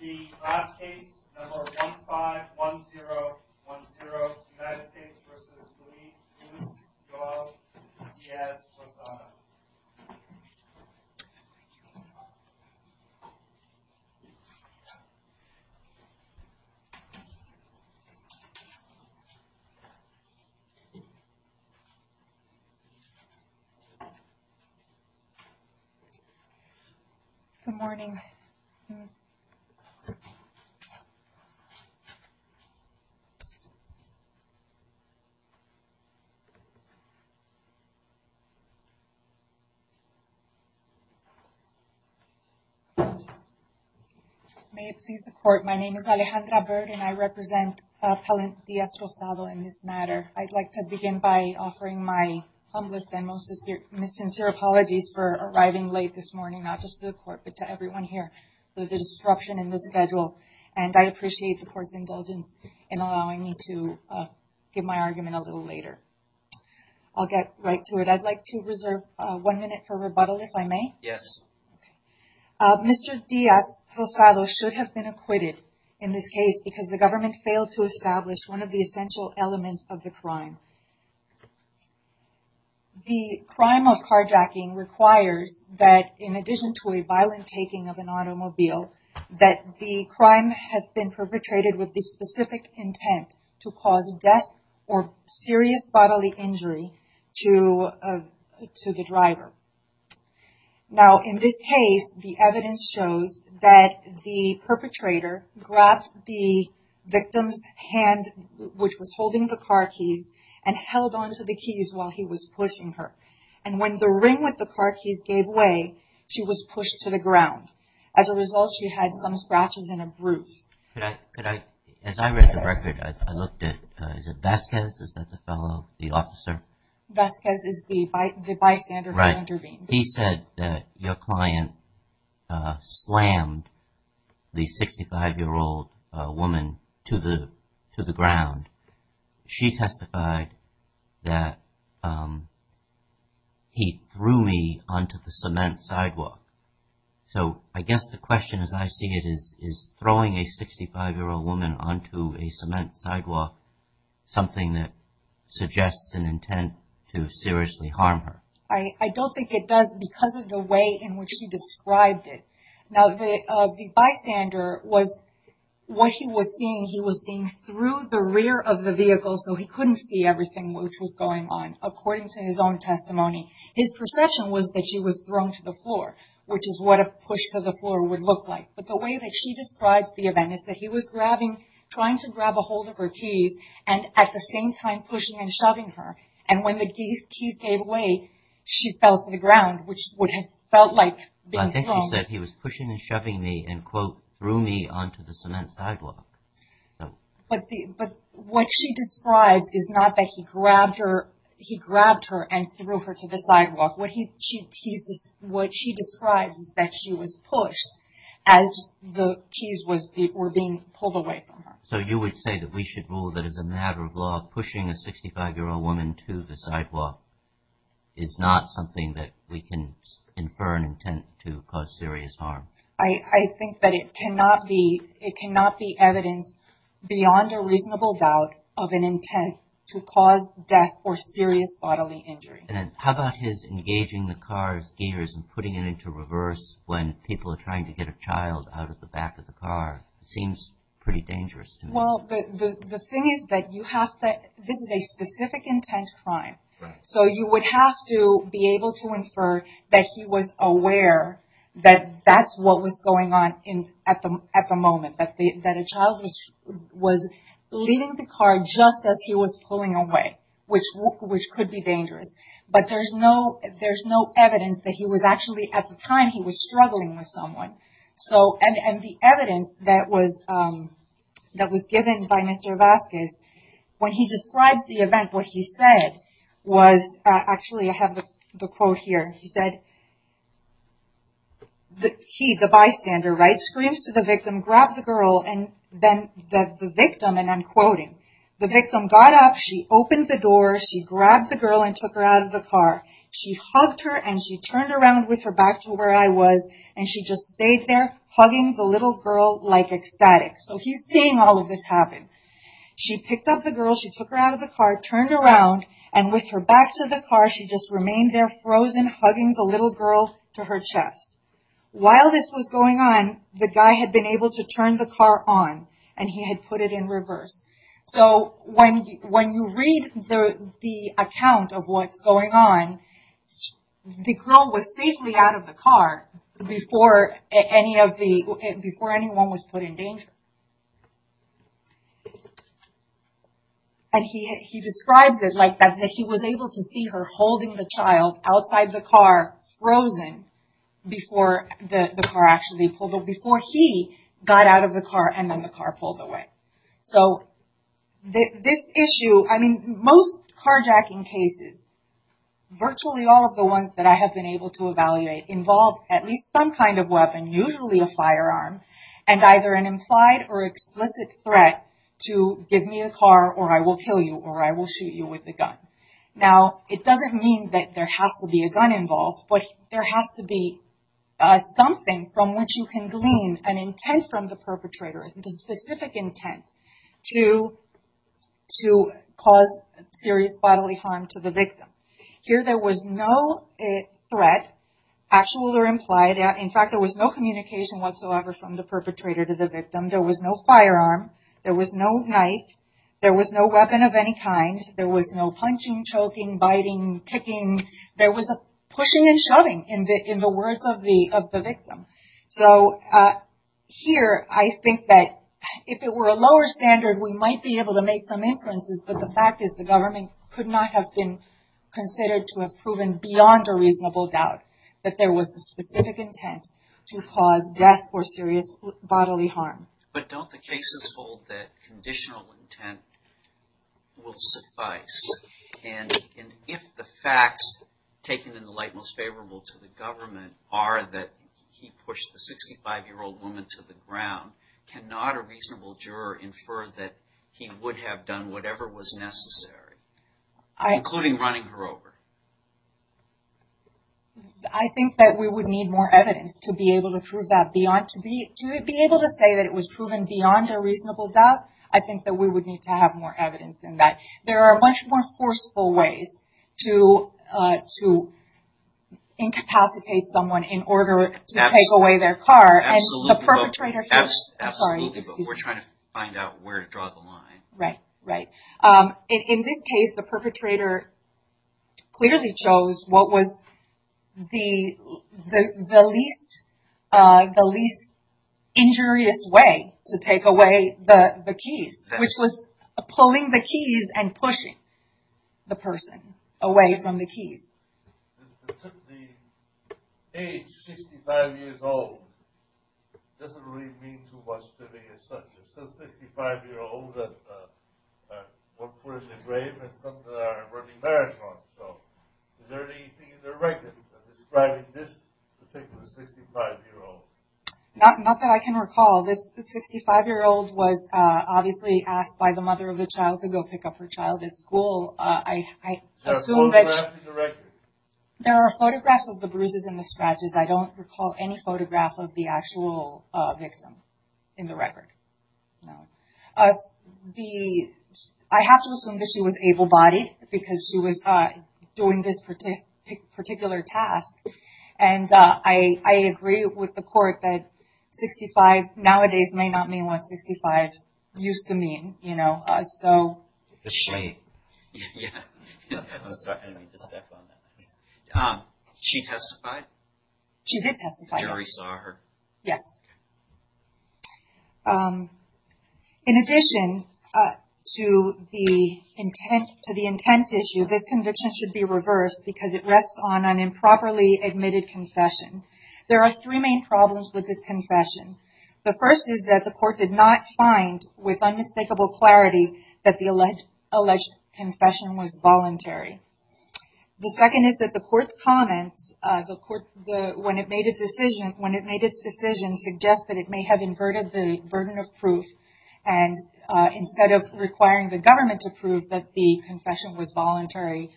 The last case, number 151010, United States v. Belize, Luis, Joel, Diaz-Rosado Good morning. May it please the court, my name is Alejandra Bird and I represent appellant Diaz-Rosado in this matter. I'd like to begin by offering my humblest and most sincere apologies for arriving late this morning not just to the court but to everyone here for the disruption in the schedule and I appreciate the court's indulgence in allowing me to give my argument a little later. I'll get right to it. I'd like to reserve one minute for rebuttal if I may. Mr. Diaz-Rosado should have been acquitted in this case because the government failed to establish one of the essential elements of the crime. The crime of carjacking requires that, in addition to a violent taking of an automobile, that the crime has been perpetrated with the specific intent to cause death or serious bodily injury to the driver. In this case, the evidence shows that the perpetrator grabbed the victim's hand which was holding the car keys and held on to the keys while he was pushing her and when the ring with the car keys gave way, she was pushed to the ground. As a result, she had some scratches and a bruise. Could I, as I read the record, I looked at, is it Vasquez, is that the fellow, the officer? Vasquez is the bystander who intervened. He said that your client slammed the 65-year-old woman to the ground. She testified that he threw me onto the cement sidewalk. So I guess the question, as I see it, is throwing a 65-year-old woman onto a cement sidewalk something that suggests an intent to seriously harm her? I don't think it does because of the way in which he described it. Now the bystander was, what he was seeing, he was seeing through the rear of the vehicle so he couldn't see everything which was going on according to his own testimony. His perception was that she was thrown to the floor which is what a push to the floor would look like. But the way that she describes the event is that he was grabbing, trying to grab a hold of her keys and at the same time pushing and shoving her and when the keys gave way she fell to the ground which would have felt like being thrown. But I think she said he was pushing and shoving me and quote threw me onto the cement sidewalk. But what she describes is not that he grabbed her, he grabbed her and threw her to the sidewalk. What he, she, he's just, what she describes is that she was pushed as the keys were being pulled away from her. So you would say that we should rule that as a matter of law pushing a person to the sidewalk is not something that we can infer an intent to cause serious harm. I think that it cannot be, it cannot be evidence beyond a reasonable doubt of an intent to cause death or serious bodily injury. And how about his engaging the car's gears and putting it into reverse when people are trying to get a child out of the back of the car? It seems pretty dangerous. Well the thing is that you have to, this is a specific intent crime. So you would have to be able to infer that he was aware that that's what was going on at the moment. That a child was leaving the car just as he was pulling away which could be dangerous. But there's no, there's no evidence that he was actually at the time he was struggling with someone. So, and the evidence that was, that was given by Mr. Vazquez, when he describes the event, what he said was, actually I have the quote here. He said, the key, the bystander, right? Screams to the victim, grabbed the girl and then the victim, and I'm quoting, the victim got up, she opened the door, she grabbed the girl and took her out of the car. She hugged her and she turned around with her back to where I was and she just stayed there hugging the little girl like ecstatic. So he's seeing all of this happen. She picked up the girl, she took her out of the car, turned around and with her back to the car, she just remained there frozen hugging the little girl to her chest. While this was going on, the guy had been able to see what was going on. The girl was safely out of the car before any of the, before anyone was put in danger. And he, he describes it like that, that he was able to see her holding the child outside the car frozen before the car actually pulled, before he got out of the car and then car pulled away. So this issue, I mean, most carjacking cases, virtually all of the ones that I have been able to evaluate involve at least some kind of weapon, usually a firearm and either an implied or explicit threat to give me a car or I will kill you or I will shoot you with the gun. Now, it doesn't mean that there has to be a gun involved, but there has to be something from which you can glean an intent from the perpetrator, a specific intent to cause serious bodily harm to the victim. Here there was no threat, actual or implied. In fact, there was no communication whatsoever from the perpetrator to the victim. There was no firearm. There was no knife. There was no weapon of any kind. There was no punching, choking, biting, kicking. There was a pushing and shoving in the words of the victim. So here I think that if it were a lower standard, we might be able to make some inferences, but the fact is the government could not have been considered to have proven beyond a reasonable doubt that there was a specific intent to cause death or serious bodily harm. But don't the cases hold that conditional intent will suffice? And if the facts taken in the light most favorable to the government are that he pushed the 65-year-old woman to the ground, cannot a reasonable juror infer that he would have done whatever was necessary, including running her over? I think that we would need more evidence to be able to prove that beyond to be to be able to say that it was proven beyond a reasonable doubt. I think that we would need to have more evidence than that. There are much more forceful ways to incapacitate someone in order to take away their car. Absolutely. But we're trying to find out where to draw the line. Right. In this case, the perpetrator clearly chose what was the least injurious way to take away the keys, which was pulling the keys and pushing the person away from the keys. The age, 65 years old, doesn't really mean too much to me as such. It's a 55-year-old that was put in the grave and some that are running marriage laws. So is there anything in their records that is describing this particular 65-year-old? Not that I can recall. This 65-year-old was obviously asked by the mother of the child to go pick up her child at school. There are photographs of the bruises and the scratches. I don't recall any photograph of the actual victim in the record. I have to assume that she was able bodied because she was doing this particular task. I agree with the court that 65 nowadays may not mean what 65 used to mean. She testified? She did testify. The jury saw her? Yes. In addition to the intent issue, this conviction should be reversed because it rests on an improperly admitted confession. There are three main problems with this confession. The first is that the court did not find with unmistakable clarity that the alleged confession was voluntary. The second is that the court's comments when it made its decision suggest that it may have inverted the burden of proof and instead of requiring the government to prove that the confession was voluntary,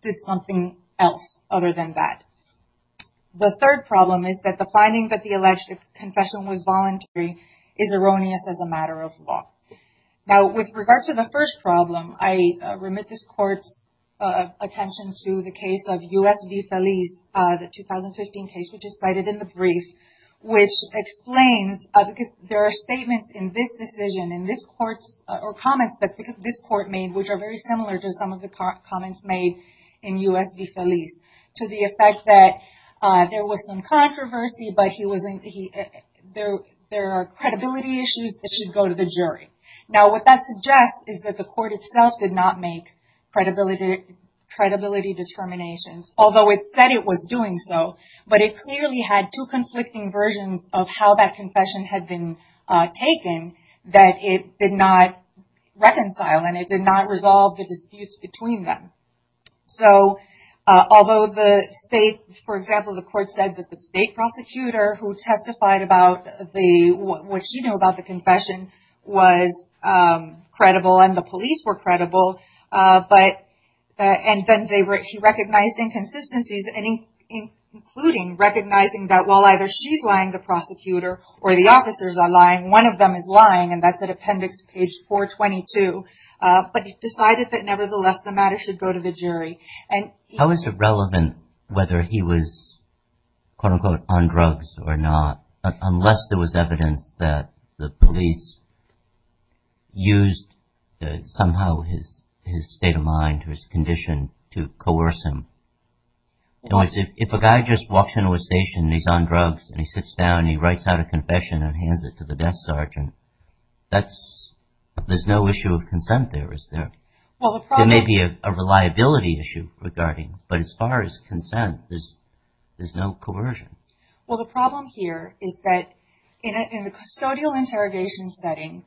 did something else other than that. The third problem is that the finding that the alleged confession was voluntary is erroneous as a matter of law. Now, with regard to the first problem, I remit this court's attention to the case of U.S. v. Feliz, the 2015 case which is cited in the brief, which explains there are statements in this decision or comments that this court made which are very similar to some of the comments made in U.S. v. Feliz to the effect that there was some controversy but there are credibility issues that should go to the jury. Now, what that suggests is that the court itself did not make credibility determinations, although it said it was doing so, but it clearly had two conflicting versions of how that confession had been taken that it did not reconcile and it did not resolve the disputes between them. So, although the state, for example, the court said that the state prosecutor who testified about the, what she knew about the confession was credible and the police were credible, but, and then he recognized inconsistencies, including recognizing that while either she's lying, the prosecutor, or the officers are lying, one of them is lying, and that's at appendix page 422, but he decided that nevertheless the matter should go to the jury. And how is it relevant whether he was, quote unquote, on drugs or not, unless there was his state of mind or his condition to coerce him? You know, if a guy just walks into a station and he's on drugs and he sits down and he writes out a confession and hands it to the death sergeant, that's, there's no issue of consent there, is there? There may be a reliability issue regarding, but as far as consent, there's no coercion. Well, the problem here is that in the custodial interrogation setting,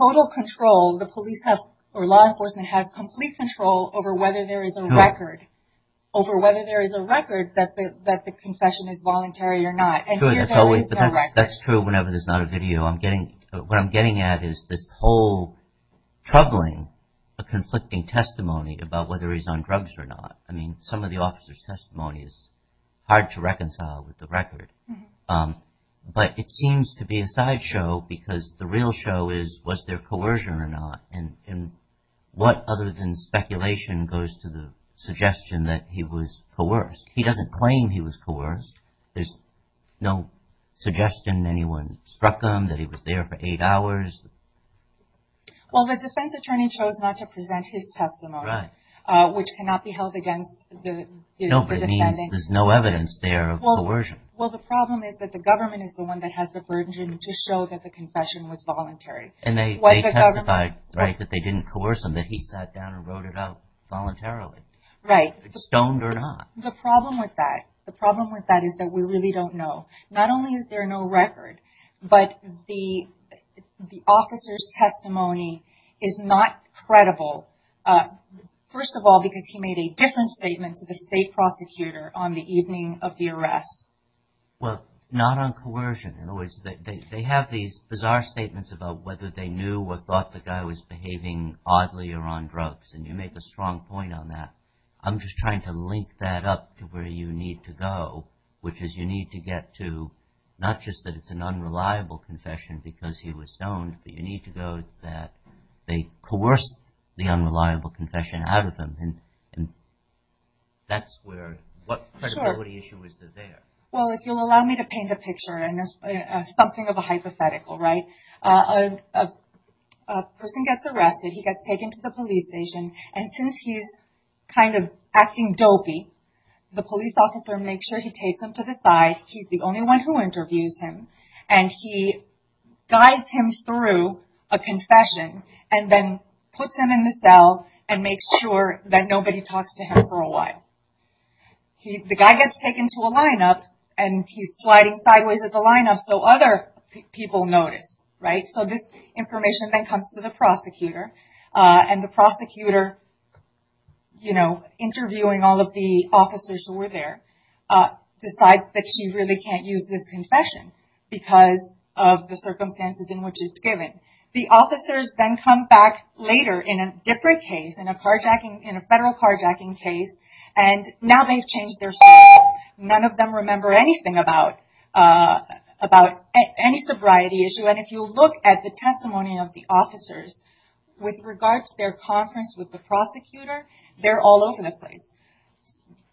total control, the police have, or law enforcement has complete control over whether there is a record, over whether there is a record that the confession is voluntary or not. Sure, that's always, that's true whenever there's not a video. I'm getting, what I'm getting at is this whole troubling, a conflicting testimony about whether he's on drugs or not. I mean, some of the officer's testimony is hard to reconcile with the record, um, but it seems to be a side show because the real show is, was there coercion or not? And, and what other than speculation goes to the suggestion that he was coerced? He doesn't claim he was coerced. There's no suggestion anyone struck him, that he was there for eight hours. Well, the defense attorney chose not to present his testimony, uh, which cannot be held against the defendant. No, but it means there's no evidence there of coercion. Well, the problem is that the government is the one that has the burden to show that the confession was voluntary. And they testified, right, that they didn't coerce him, that he sat down and wrote it out voluntarily. Right. Stoned or not. The problem with that, the problem with that is that we really don't know. Not only is there no record, but the, the officer's testimony is not credible. Uh, first of all, because he made a different statement to the state prosecutor on the evening of the arrest. Well, not on coercion. In other words, they have these bizarre statements about whether they knew or thought the guy was behaving oddly or on drugs. And you make a strong point on that. I'm just trying to link that up to where you need to go, which is you need to get to, not just that it's an unreliable confession because he was stoned, but you need to go that they coerced the unreliable confession out of them. And, and that's where, what credibility issue is there? Well, if you'll allow me to paint a picture, and there's something of a hypothetical, right? A person gets arrested, he gets taken to the police station. And since he's kind of acting dopey, the police officer makes sure he takes him to the side. He's the only one who interviews him. And he guides him through a confession and then puts him in the cell and makes sure that nobody talks to him for a while. He, the guy gets taken to a lineup and he's sliding sideways at the lineup so other people notice, right? So this information then comes to the prosecutor. Uh, and the prosecutor, you know, interviewing all of the that she really can't use this confession because of the circumstances in which it's given. The officers then come back later in a different case, in a carjacking, in a federal carjacking case. And now they've changed their story. None of them remember anything about, uh, about any sobriety issue. And if you look at the testimony of the officers with regard to their conference with the prosecutor, they're all over the place.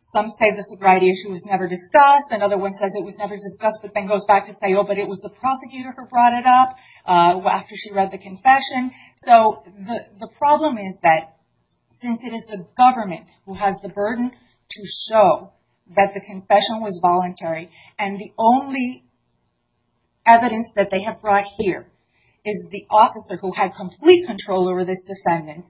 Some say the sobriety issue was never discussed. Another one says it was never discussed, but then goes back to say, oh, but it was the prosecutor who brought it up, uh, after she read the confession. So the, the problem is that since it is the government who has the burden to show that the confession was voluntary and the only evidence that they have brought here is the officer who had complete control over this defendant.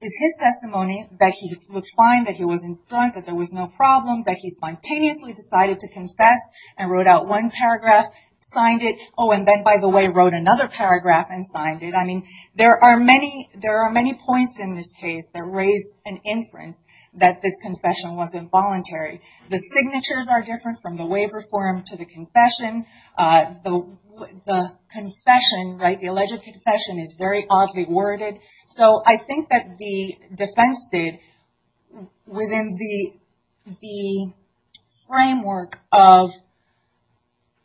It's his testimony that he looked fine, that he wasn't drunk, that there was no problem, that he spontaneously decided to confess and wrote out one paragraph, signed it. Oh, and then by the way, wrote another paragraph and signed it. I mean, there are many, there are many points in this case that raise an inference that this confession wasn't voluntary. The signatures are different from the waiver form to the confession. Uh, the, the confession, right, the alleged confession is very oddly worded. So I think that the defense did within the, the framework of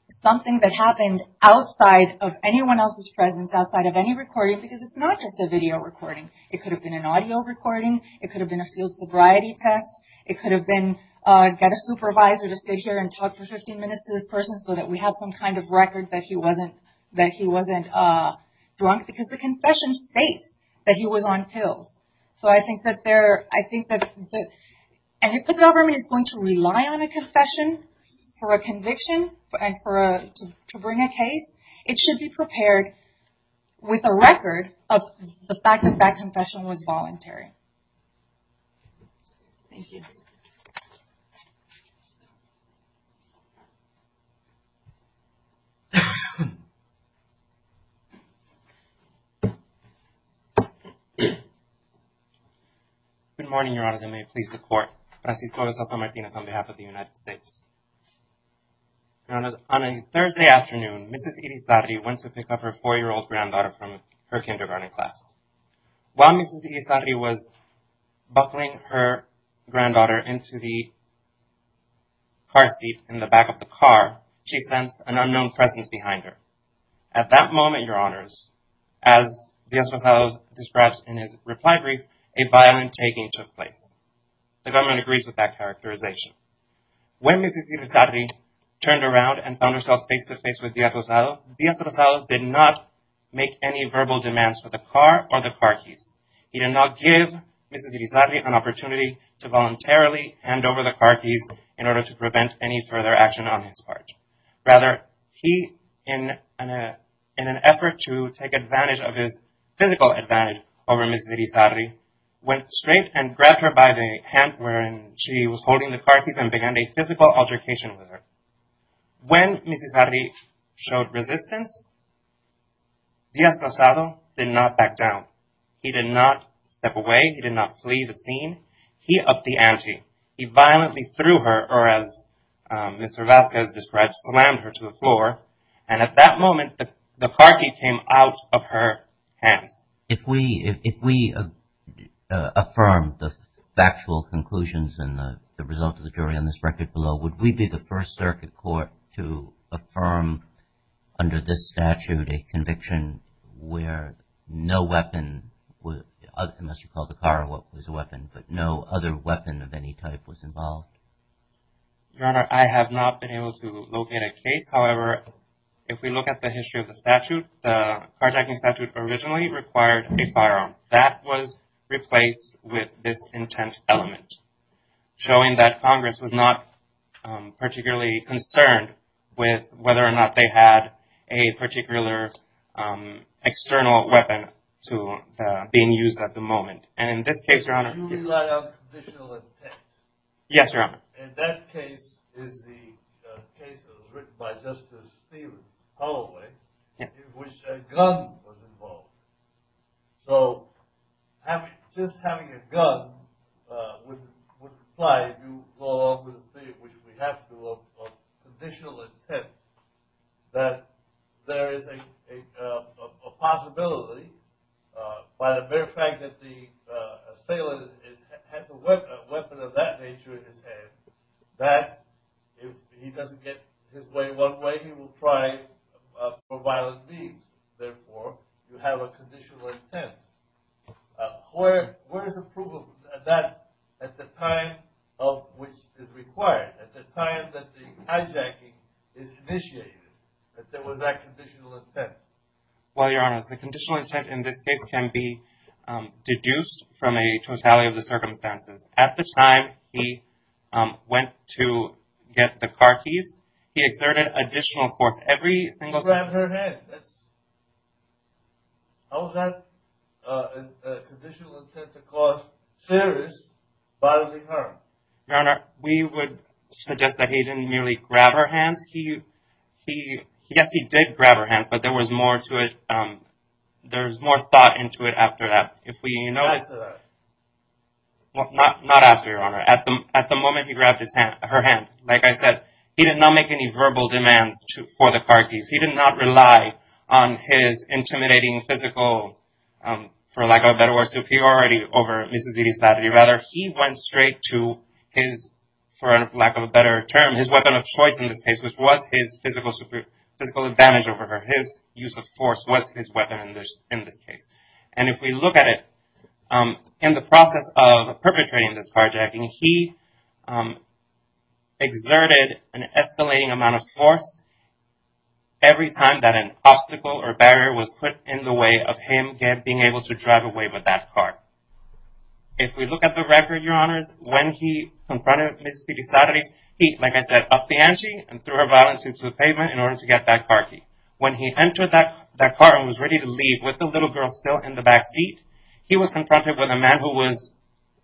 something that happened outside of anyone else's presence, outside of any recording, because it's not just a video recording. It could have been an audio recording. It could have been a field sobriety test. It could have been, uh, get a supervisor to sit here and talk for 15 minutes to this person so that we have some kind of record that he wasn't, that he wasn't, uh, drunk because the confession states that he was on pills. So I think that there, I think that the, and if the government is going to rely on a confession for a conviction and for a, to bring a case, it should be prepared with a record of the fact that that confession was voluntary. Thank you. Good morning, Your Honors, and may it please the Court. Francisco de Sousa Martinez on behalf of the United States. On a Thursday afternoon, Mrs. Irizarry went to pick up her four-year-old granddaughter from her kindergarten class. While Mrs. Irizarry was buckling her granddaughter into the car seat in the back of the car, she sensed an unknown presence behind her. At that moment, Your Honors, as Díaz Gonzalo describes in his reply brief, a violent taking took place. The government agrees with that characterization. When Mrs. Irizarry turned around and found herself face-to-face with Díaz Gonzalo, Díaz Gonzalo did not make any verbal demands for the car or the car keys. He did not give Mrs. Irizarry an opportunity to voluntarily hand over the car keys in order to prevent any further action on his part. Rather, he, in an effort to take advantage of his physical advantage over Mrs. Irizarry, went straight and grabbed her by the hand when she was holding the car keys and began a physical altercation with her. When Mrs. Irizarry showed resistance, Díaz Gonzalo did not back down. He did not step away. He did not flee the scene. He upped the ante. He violently threw her, or as Mr. Vazquez describes, slammed her to the floor, and at that moment, the car key came out of her hands. If we affirm the factual conclusions and the result of the jury on this record below, would we be the first circuit court to affirm under this statute a conviction where no weapon, unless you call the car what was a weapon, but no other weapon of any type was If we look at the history of the statute, the carjacking statute originally required a firearm. That was replaced with this intent element, showing that Congress was not particularly concerned with whether or not they had a particular external weapon being used at the moment. You rely on conditional intent. Yes, Your Honor. And that case is the case written by Justice Stevens, Holloway, in which a gun was involved. So just having a gun would imply, if you go along with Steve, which we have to, of conditional intent, that there is a possibility, by the very fact that the assailant has a weapon of that nature in his hand, that if he doesn't get his way one way, he will try for violent means. Therefore, you have a conditional intent. Where is the proof of that at the time of which it is required? At the time that the hijacking is initiated, that there was that conditional intent? Well, Your Honor, the conditional intent in this case can be deduced from a totality of the circumstances. At the time he went to get the car keys, he exerted additional force. Every single time he grabbed her hand. How is that conditional intent to cause serious bodily harm? Your Honor, we would suggest that he didn't merely grab her hands. Yes, he did grab her hands, but there was more to it. There's more thought into it after that. Not after, Your Honor. At the moment he grabbed her hand, like I said, he did not make any verbal demands for the car keys. He did not rely on his intimidating physical superiority over his, for lack of a better term, his weapon of choice in this case, which was his physical advantage over her. His use of force was his weapon in this case. And if we look at it, in the process of perpetrating this carjacking, he exerted an escalating amount of force every time that an obstacle or barrier was put in the way of him being able to drive away with that car. If we look at the record, Your Honor, when he confronted Ms. Cidisarri, he, like I said, upped the ante and threw her violently to the pavement in order to get that car key. When he entered that car and was ready to leave with the little girl still in the back seat, he was confronted with a man who was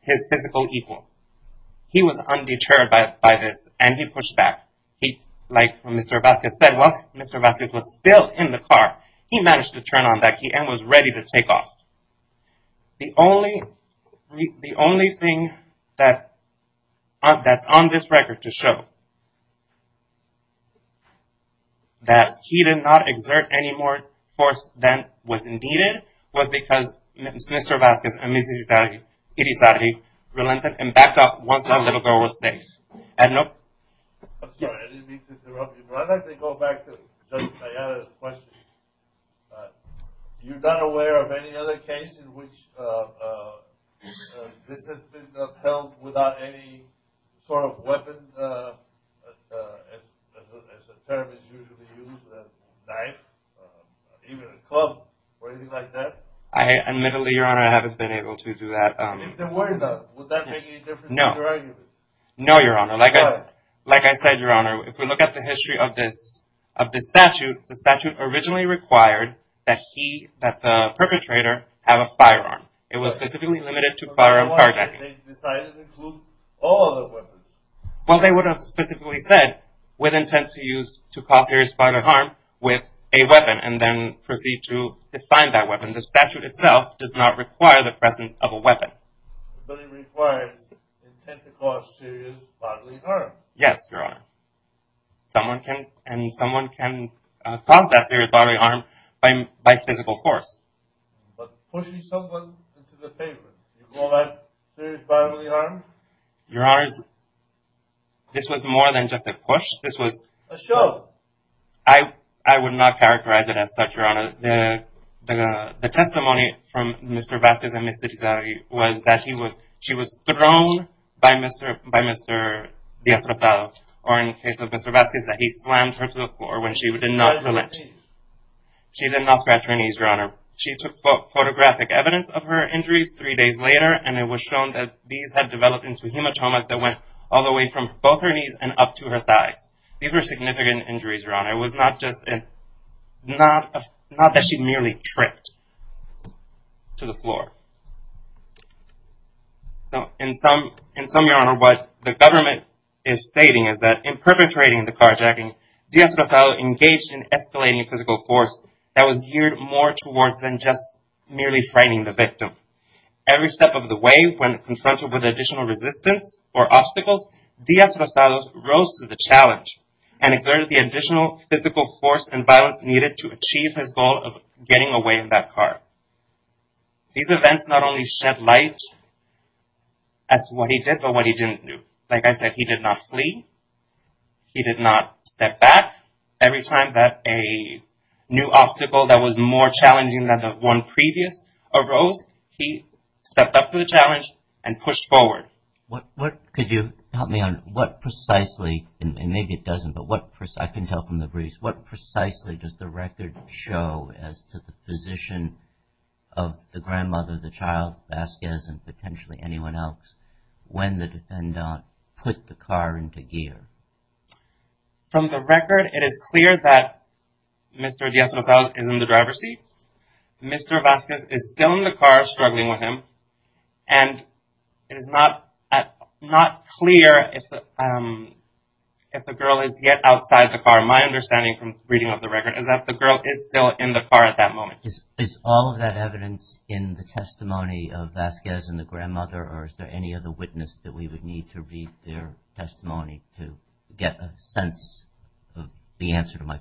his physical equal. He was undeterred by this and he pushed back. Like Mr. Vazquez said, while Mr. Vazquez was still in the car, he managed to turn on that key and was ready to take off. The only thing that's on this record to show that he did not exert any more force than was needed was because Mr. Vazquez and Ms. Cidisarri relented and backed off once that little girl was safe. I'm sorry, I didn't mean to interrupt you. But I'd like to go back to Diana's question. You're not aware of any other cases in which this has been held without any sort of weapon, as the term is usually used, a knife, even a club or anything like that? Admittedly, Your Honor, I haven't been able to do that. Would that make any difference in your argument? No, Your Honor. Like I said, Your Honor, if we look at the history of this statute, the statute originally required that the perpetrator have a firearm. It was specifically limited to firearm carjacking. But why did they decide to include all other weapons? Well, they would have specifically said, with intent to cause serious bodily harm with a weapon and then proceed to define that weapon. The statute itself does not require the presence of a weapon. But it requires intent to cause serious bodily harm. Yes, Your Honor. Someone can and someone can cause that serious bodily harm by physical force. But pushing someone into the pavement, you call that serious bodily harm? Your Honor, this was more than just a push. This was... A show? I would not characterize it as such, Your Honor. The testimony from Mr. Vasquez and Ms. Tizari was that she was thrown by Mr. Diaz-Rosado, or in the case of Mr. Vasquez, that he slammed her to the floor when she did not relent. She did not scratch her knees, Your Honor. She took photographic evidence of her injuries three days later, and it was shown that these had developed into hematomas that went all the way from both her knees and up to her thighs. These were significant injuries, Your Honor. It was not just... Not that she merely tripped to the floor. So, in sum, Your Honor, what the government is stating is that in perpetrating the carjacking, Diaz-Rosado engaged in escalating physical force that was geared more towards than just merely frightening the victim. Every step of the way, when confronted with additional resistance or physical force and violence needed to achieve his goal of getting away in that car. These events not only shed light as to what he did, but what he didn't do. Like I said, he did not flee. He did not step back. Every time that a new obstacle that was more challenging than the one previous arose, he stepped up to the challenge and pushed forward. What could you help me on? What precisely, and maybe it doesn't, but what precisely, I can tell from the briefs, what precisely does the record show as to the position of the grandmother, the child, Vasquez, and potentially anyone else when the defendant put the car into gear? From the record, it is clear that Mr. Diaz-Rosado is in the driver's seat. Mr. Vasquez is still in the car struggling with him, and it is not clear if the girl is yet outside the car. My understanding from reading of the record is that the girl is still in the car at that moment. Is all of that evidence in the testimony of Vasquez and the grandmother, or is there any other witness that we would need to read their testimony to get a sense of the answer to my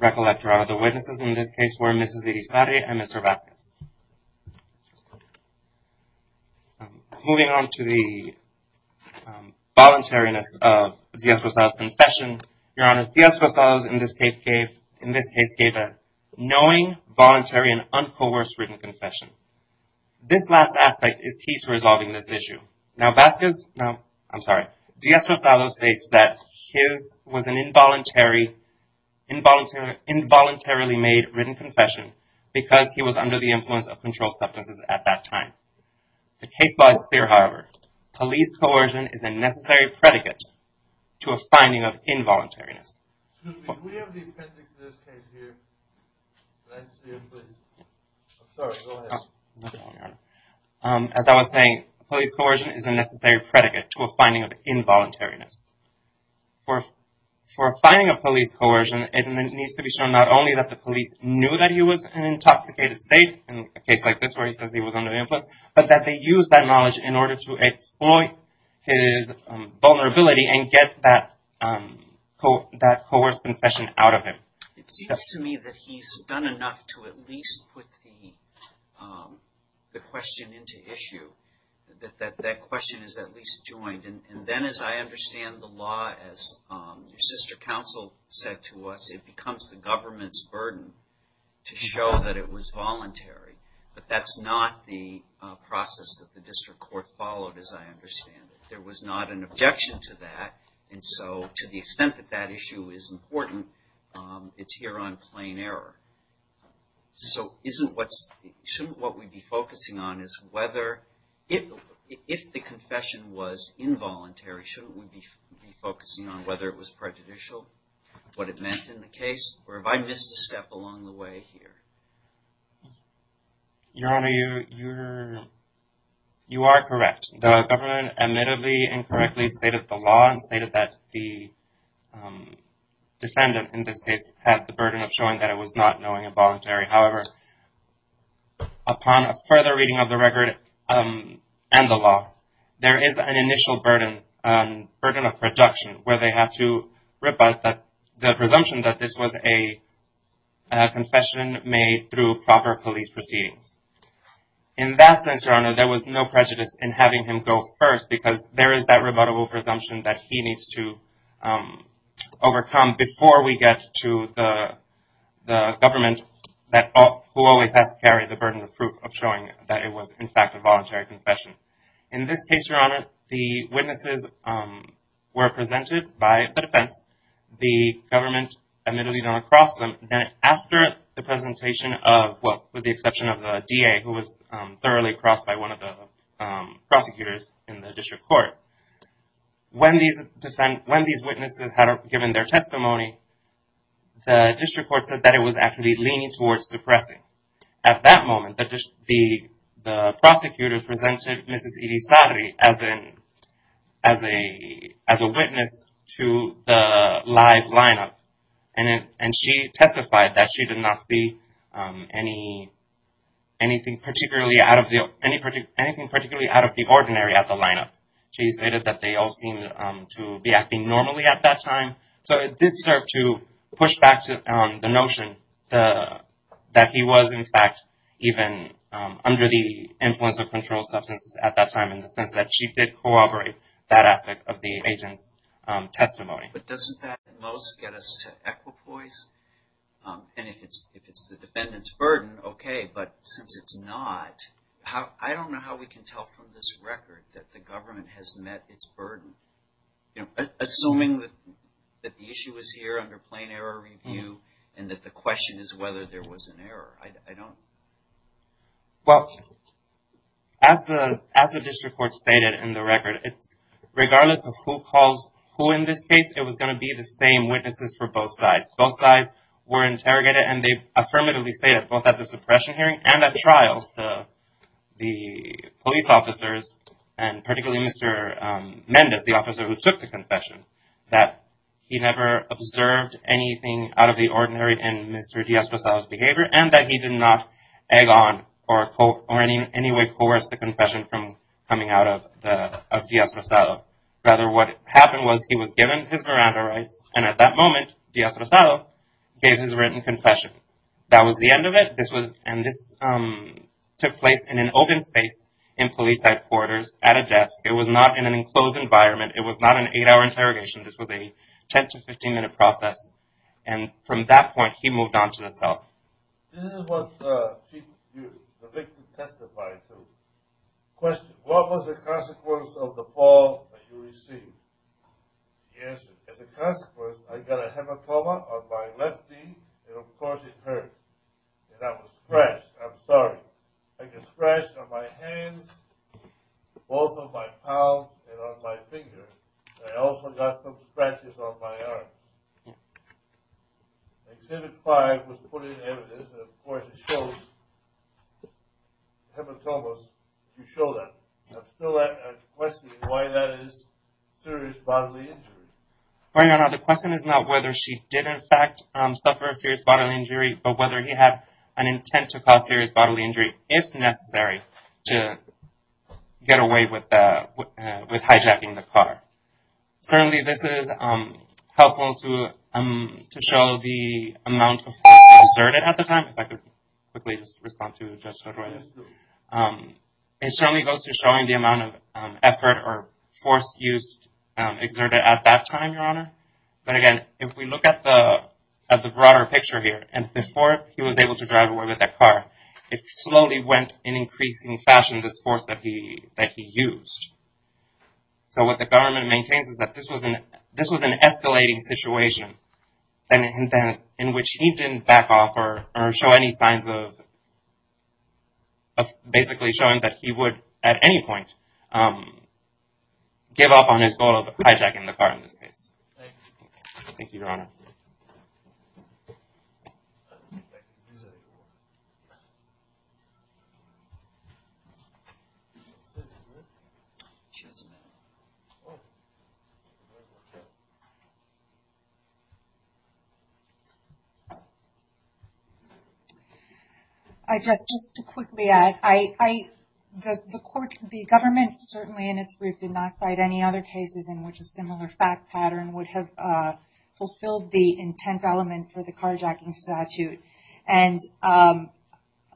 recollection of the witnesses in this case were Mrs. Irizarry and Mr. Vasquez? Moving on to the voluntariness of Diaz-Rosado's confession, Your Honor, Diaz-Rosado in this case gave a knowing, voluntary, and uncoerced written confession. This last aspect is key to resolving this issue. Now Vasquez, no, I'm sorry, Diaz-Rosado states that his was an involuntarily made written confession because he was under the influence of controlled substances at that time. The case law is clear, however. Police coercion is a necessary predicate to a finding of involuntariness. Excuse me, do we have the appendix of this case here? I'm sorry, go ahead. As I was saying, police coercion is a necessary predicate to a finding of for finding of police coercion. It needs to be shown not only that the police knew that he was an intoxicated state in a case like this where he says he was under influence, but that they used that knowledge in order to exploit his vulnerability and get that coerced confession out of him. It seems to me that he's done enough to at least put the question into issue, that that question is at least joined. And then as I understand the law, as your sister counsel said to us, it becomes the government's burden to show that it was voluntary. But that's not the process that the district court followed as I understand it. There was not an objection to that, and so to the extent that that issue is important, it's here on plain error. So, shouldn't what we'd be focusing on is whether, if the confession was involuntary, shouldn't we be focusing on whether it was prejudicial, what it meant in the case, or have I missed a step along the way here? Your Honor, you are correct. The government admittedly incorrectly stated the law and stated that the defendant, in this case, had the burden of showing that it was not knowing involuntary. However, upon a further reading of the record and the law, there is an initial burden of production where they have to rebut the presumption that this was a confession made through proper police proceedings. In that sense, Your Honor, there was no prejudice in having him go first because there is that rebuttable presumption that he needs to overcome before we get to the government who always has to carry the burden of proof of showing that it was, in fact, a voluntary confession. In this case, Your Honor, the witnesses were presented by the defense. The government admittedly did not cross them. Then after the presentation of, well, with the exception of the prosecutors in the district court, when these witnesses had given their testimony, the district court said that it was actually leaning towards suppressing. At that moment, the prosecutor presented Mrs. Irisari as a witness to the live lineup, and she testified that she did not see anything particularly out of the ordinary at the lineup. She stated that they all seemed to be acting normally at that time, so it did serve to push back the notion that he was, in fact, even under the influence of controlled substances at that time in the sense that she did corroborate that aspect of the agent's testimony. But doesn't that at most get us to equipoise? And if it's the defendant's burden, okay, but since it's not, I don't know how we can tell from this record that the government has met its burden, assuming that the issue was here under plain error review and that the question is whether there was an error. I don't... Well, as the district court stated in the record, regardless of who calls who in this case, it was going to be the same witnesses for both sides. Both sides were interrogated, and they affirmatively stated, both at the suppression hearing and at trial, the police officers, and particularly Mr. Mendez, the officer who took the confession, that he never observed anything out of the ordinary in Mr. D'Astrozao's behavior and that he did not egg on or in any way coerce the confession from coming out of D'Astrozao. Rather, what happened was he was given his veranda rights, and at that moment, D'Astrozao gave his written confession. That was the end of it, and this took place in an open space in police headquarters at a desk. It was not in an enclosed environment. It was not an eight-hour interrogation. This was a 15-minute process, and from that point, he moved on to the cell. This is what the victim testified to. Question, what was the consequence of the fall that you received? The answer is, as a consequence, I got a hematoma on my left knee, and of course it hurt, and I was scratched. I'm sorry. I got scratched on my hands, both of my palms, and on my fingers. I also got some scratches on my arm. Exhibit 5 was put in evidence, and of course it shows hematomas. You show that. I'm still questioning why that is serious bodily injury. Right now, the question is not whether she did in fact suffer a serious bodily injury, but whether he had an intent to cause serious bodily injury, if necessary, to get away with hijacking the car. Certainly, this is helpful to show the amount of force exerted at the time. It certainly goes to showing the amount of effort or force exerted at that time, Your Honor. But again, if we look at the broader picture here, and before he was able to drive away with that car, it slowly went in increasing fashion, this force that he used. So what the government maintains is that this was an escalating situation in which he didn't back off or show any signs of basically showing that he would at any point give up on his goal of hijacking the car in this case. Thank you, Your Honor. I just, just to quickly add, I, I, the court, the government certainly in its brief did not cite any other cases in which a similar fact pattern would have fulfilled the intent element for the carjacking statute. And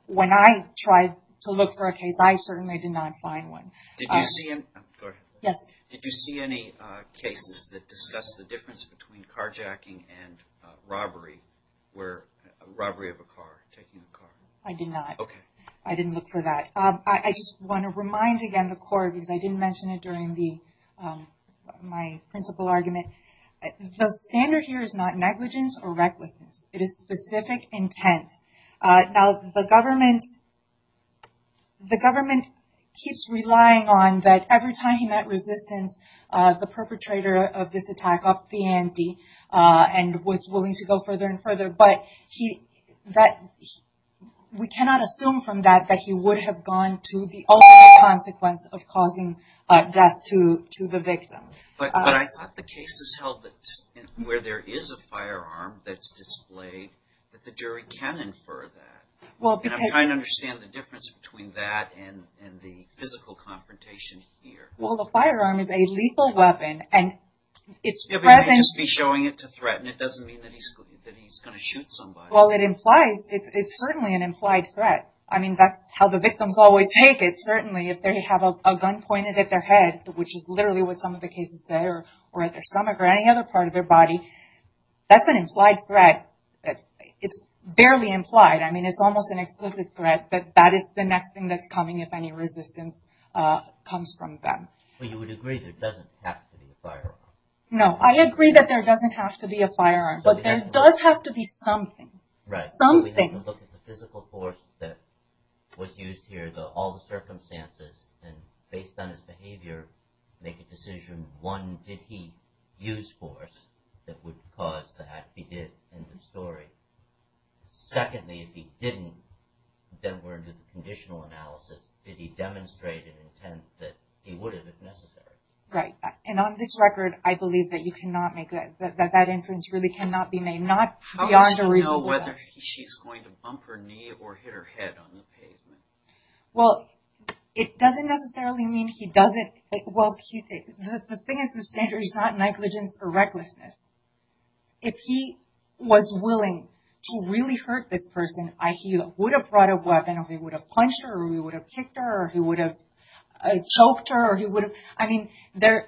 when I tried to look for a case, I certainly did not find one. Did you see any, go ahead. Yes. Did you see any cases that discussed the difference between carjacking and robbery, where robbery of a car, taking the car? I did not. Okay. I didn't look for that. I just want to remind again the court, because I didn't mention it during the, my principal argument, the standard here is not negligence or recklessness. It is specific intent. Now the government, the government keeps relying on that every time he met resistance, the perpetrator of this attack upped the ante and was willing to go further and further. But he, that we cannot assume from that, that he would have gone to the ultimate consequence of causing death to, to the victim. But, but I thought the cases held that where there is a firearm that's displayed, that the jury can infer that. Well, because I'm trying to understand the difference between that and, and the physical confrontation here. Well, the firearm is a lethal weapon and it's present. Just be showing it to threaten. It doesn't mean that he's, that he's going to shoot somebody. Well, it implies it's, it's certainly an implied threat. I mean, that's how the victims always take it. Certainly if they have a gun pointed at their head, which is literally what some of the cases say, or, or at their stomach or any other part of their body, that's an implied threat. It's barely implied. I mean, it's almost an explicit threat, but that is the next thing that's coming if any resistance comes from them. Well, you would agree that it doesn't have to be a firearm. No, I agree that there doesn't have to be a firearm, but there does have to be something. Right, but we have to look at the physical force that was used here, the, all the circumstances, and based on his behavior, make a decision. One, did he use force that would cause the act he did in the story? Secondly, if he didn't, then we're in the conditional analysis. Did he demonstrate an intent that he would have if necessary? Right. And on this record, I believe that you cannot make that, that that inference really cannot be made, not beyond a reasonable doubt. How is he going to know whether she's going to bump her knee or hit her head on the pavement? Well, it doesn't necessarily mean he doesn't. Well, the thing is, the standard is not negligence or recklessness. If he was willing to really hurt this person, he would have brought a weapon, or he would have punched her, or he would have kicked her, or he would have choked her, I mean, there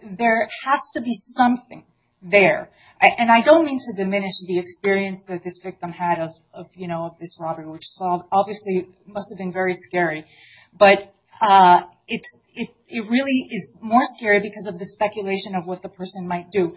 has to be something there. And I don't mean to diminish the experience that this victim had of, you know, of this robbery, which obviously must have been very scary. But it really is more scary because of the speculation of what the person might do.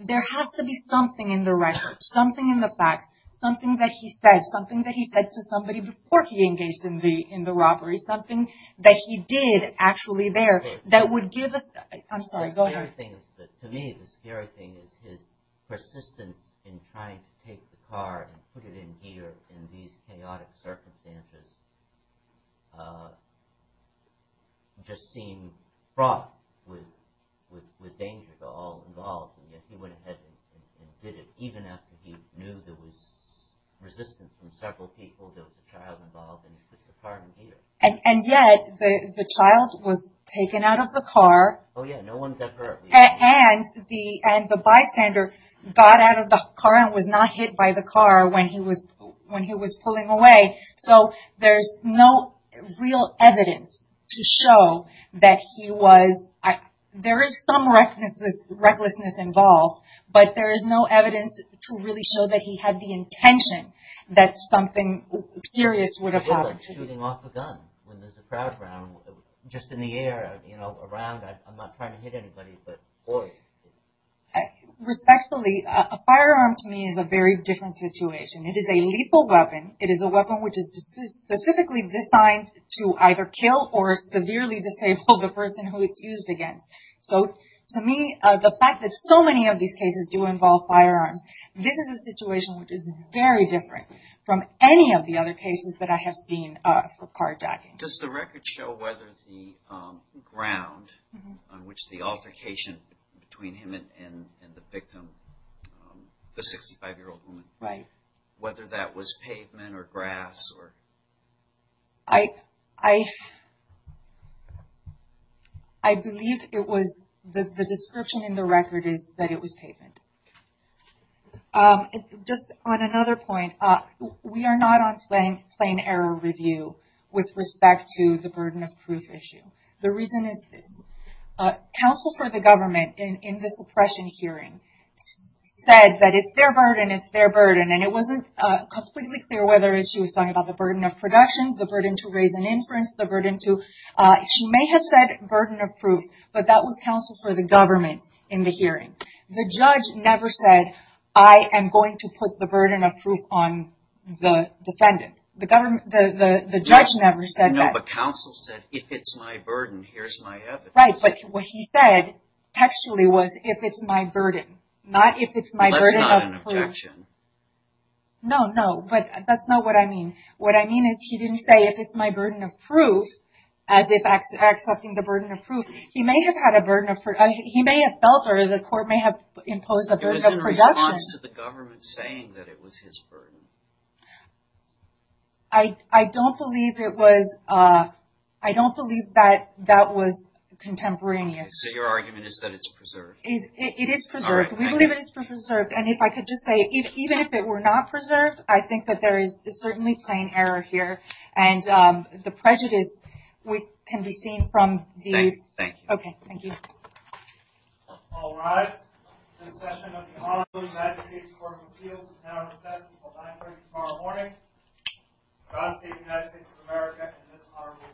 There has to be something in the record, something in the facts, something that he said, something that he said to somebody before he engaged in the robbery, something that he did actually there, that would give us, I'm sorry, go ahead. To me, the scary thing is his persistence in trying to take the car and put it in here, in these chaotic circumstances, just seemed fraught with danger to all involved. And yet, he went ahead and did it, even after he knew there was resistance from several people, the child involved, and put the car in here. And yet, the child was taken out of the car. Oh yeah, no one got hurt. And the bystander got out of the car and was not hit by the car when he was pulling away. So there's no real evidence to show that he was, there is some recklessness involved, but there is no evidence to really show that he had the intention that something serious would have happened. It's like shooting off a gun when there's a crowd around, just in the air, you know, around, I'm not trying to hit anybody, but... Respectfully, a firearm to me is a very different situation. It is a lethal weapon. It is a weapon which is specifically designed to either kill or severely disable the person who it's used against. So to me, the fact that so many of these cases do involve firearms, this is a situation which is very different from any of the other cases that I have seen for carjacking. Does the record show whether the ground on which the altercation between him and the victim, the 65-year-old woman, whether that was pavement or grass or... I believe it was, the description in the record is that it was pavement. Just on another point, we are not on plain error review with respect to the burden of proof issue. The reason is this. Counsel for the government in the suppression hearing said that it's their burden, it's their burden, and it wasn't completely clear whether she was talking about the burden of production, the burden to raise an inference, the burden to... She may have said burden of proof, but that was counsel for the government in the hearing. The judge never said, I am going to put the burden of proof on the defendant. The judge never said that. No, but counsel said, if it's my burden, here's my evidence. Right, but what he said textually was, if it's my burden, not if it's my burden of proof. Well, that's not an objection. No, no, but that's not what I mean. What I mean is he didn't say, if it's my burden of proof, as if accepting the burden of proof, he may have had a burden of proof. He may have felt, or the court may have imposed a burden of production. It was in response to the government saying that it was his burden. I don't believe that that was contemporaneous. So your argument is that it's preserved? It is preserved. We believe it is preserved, and if I could just say, even if it were not preserved, I think that there is certainly plain error here, and the prejudice can be seen from these. Thank you. Okay, thank you. All rise. This session of the Honorable United States Court of Appeals is now recessed until 930 tomorrow morning. God save the United States of America and this honorable court. Thank you.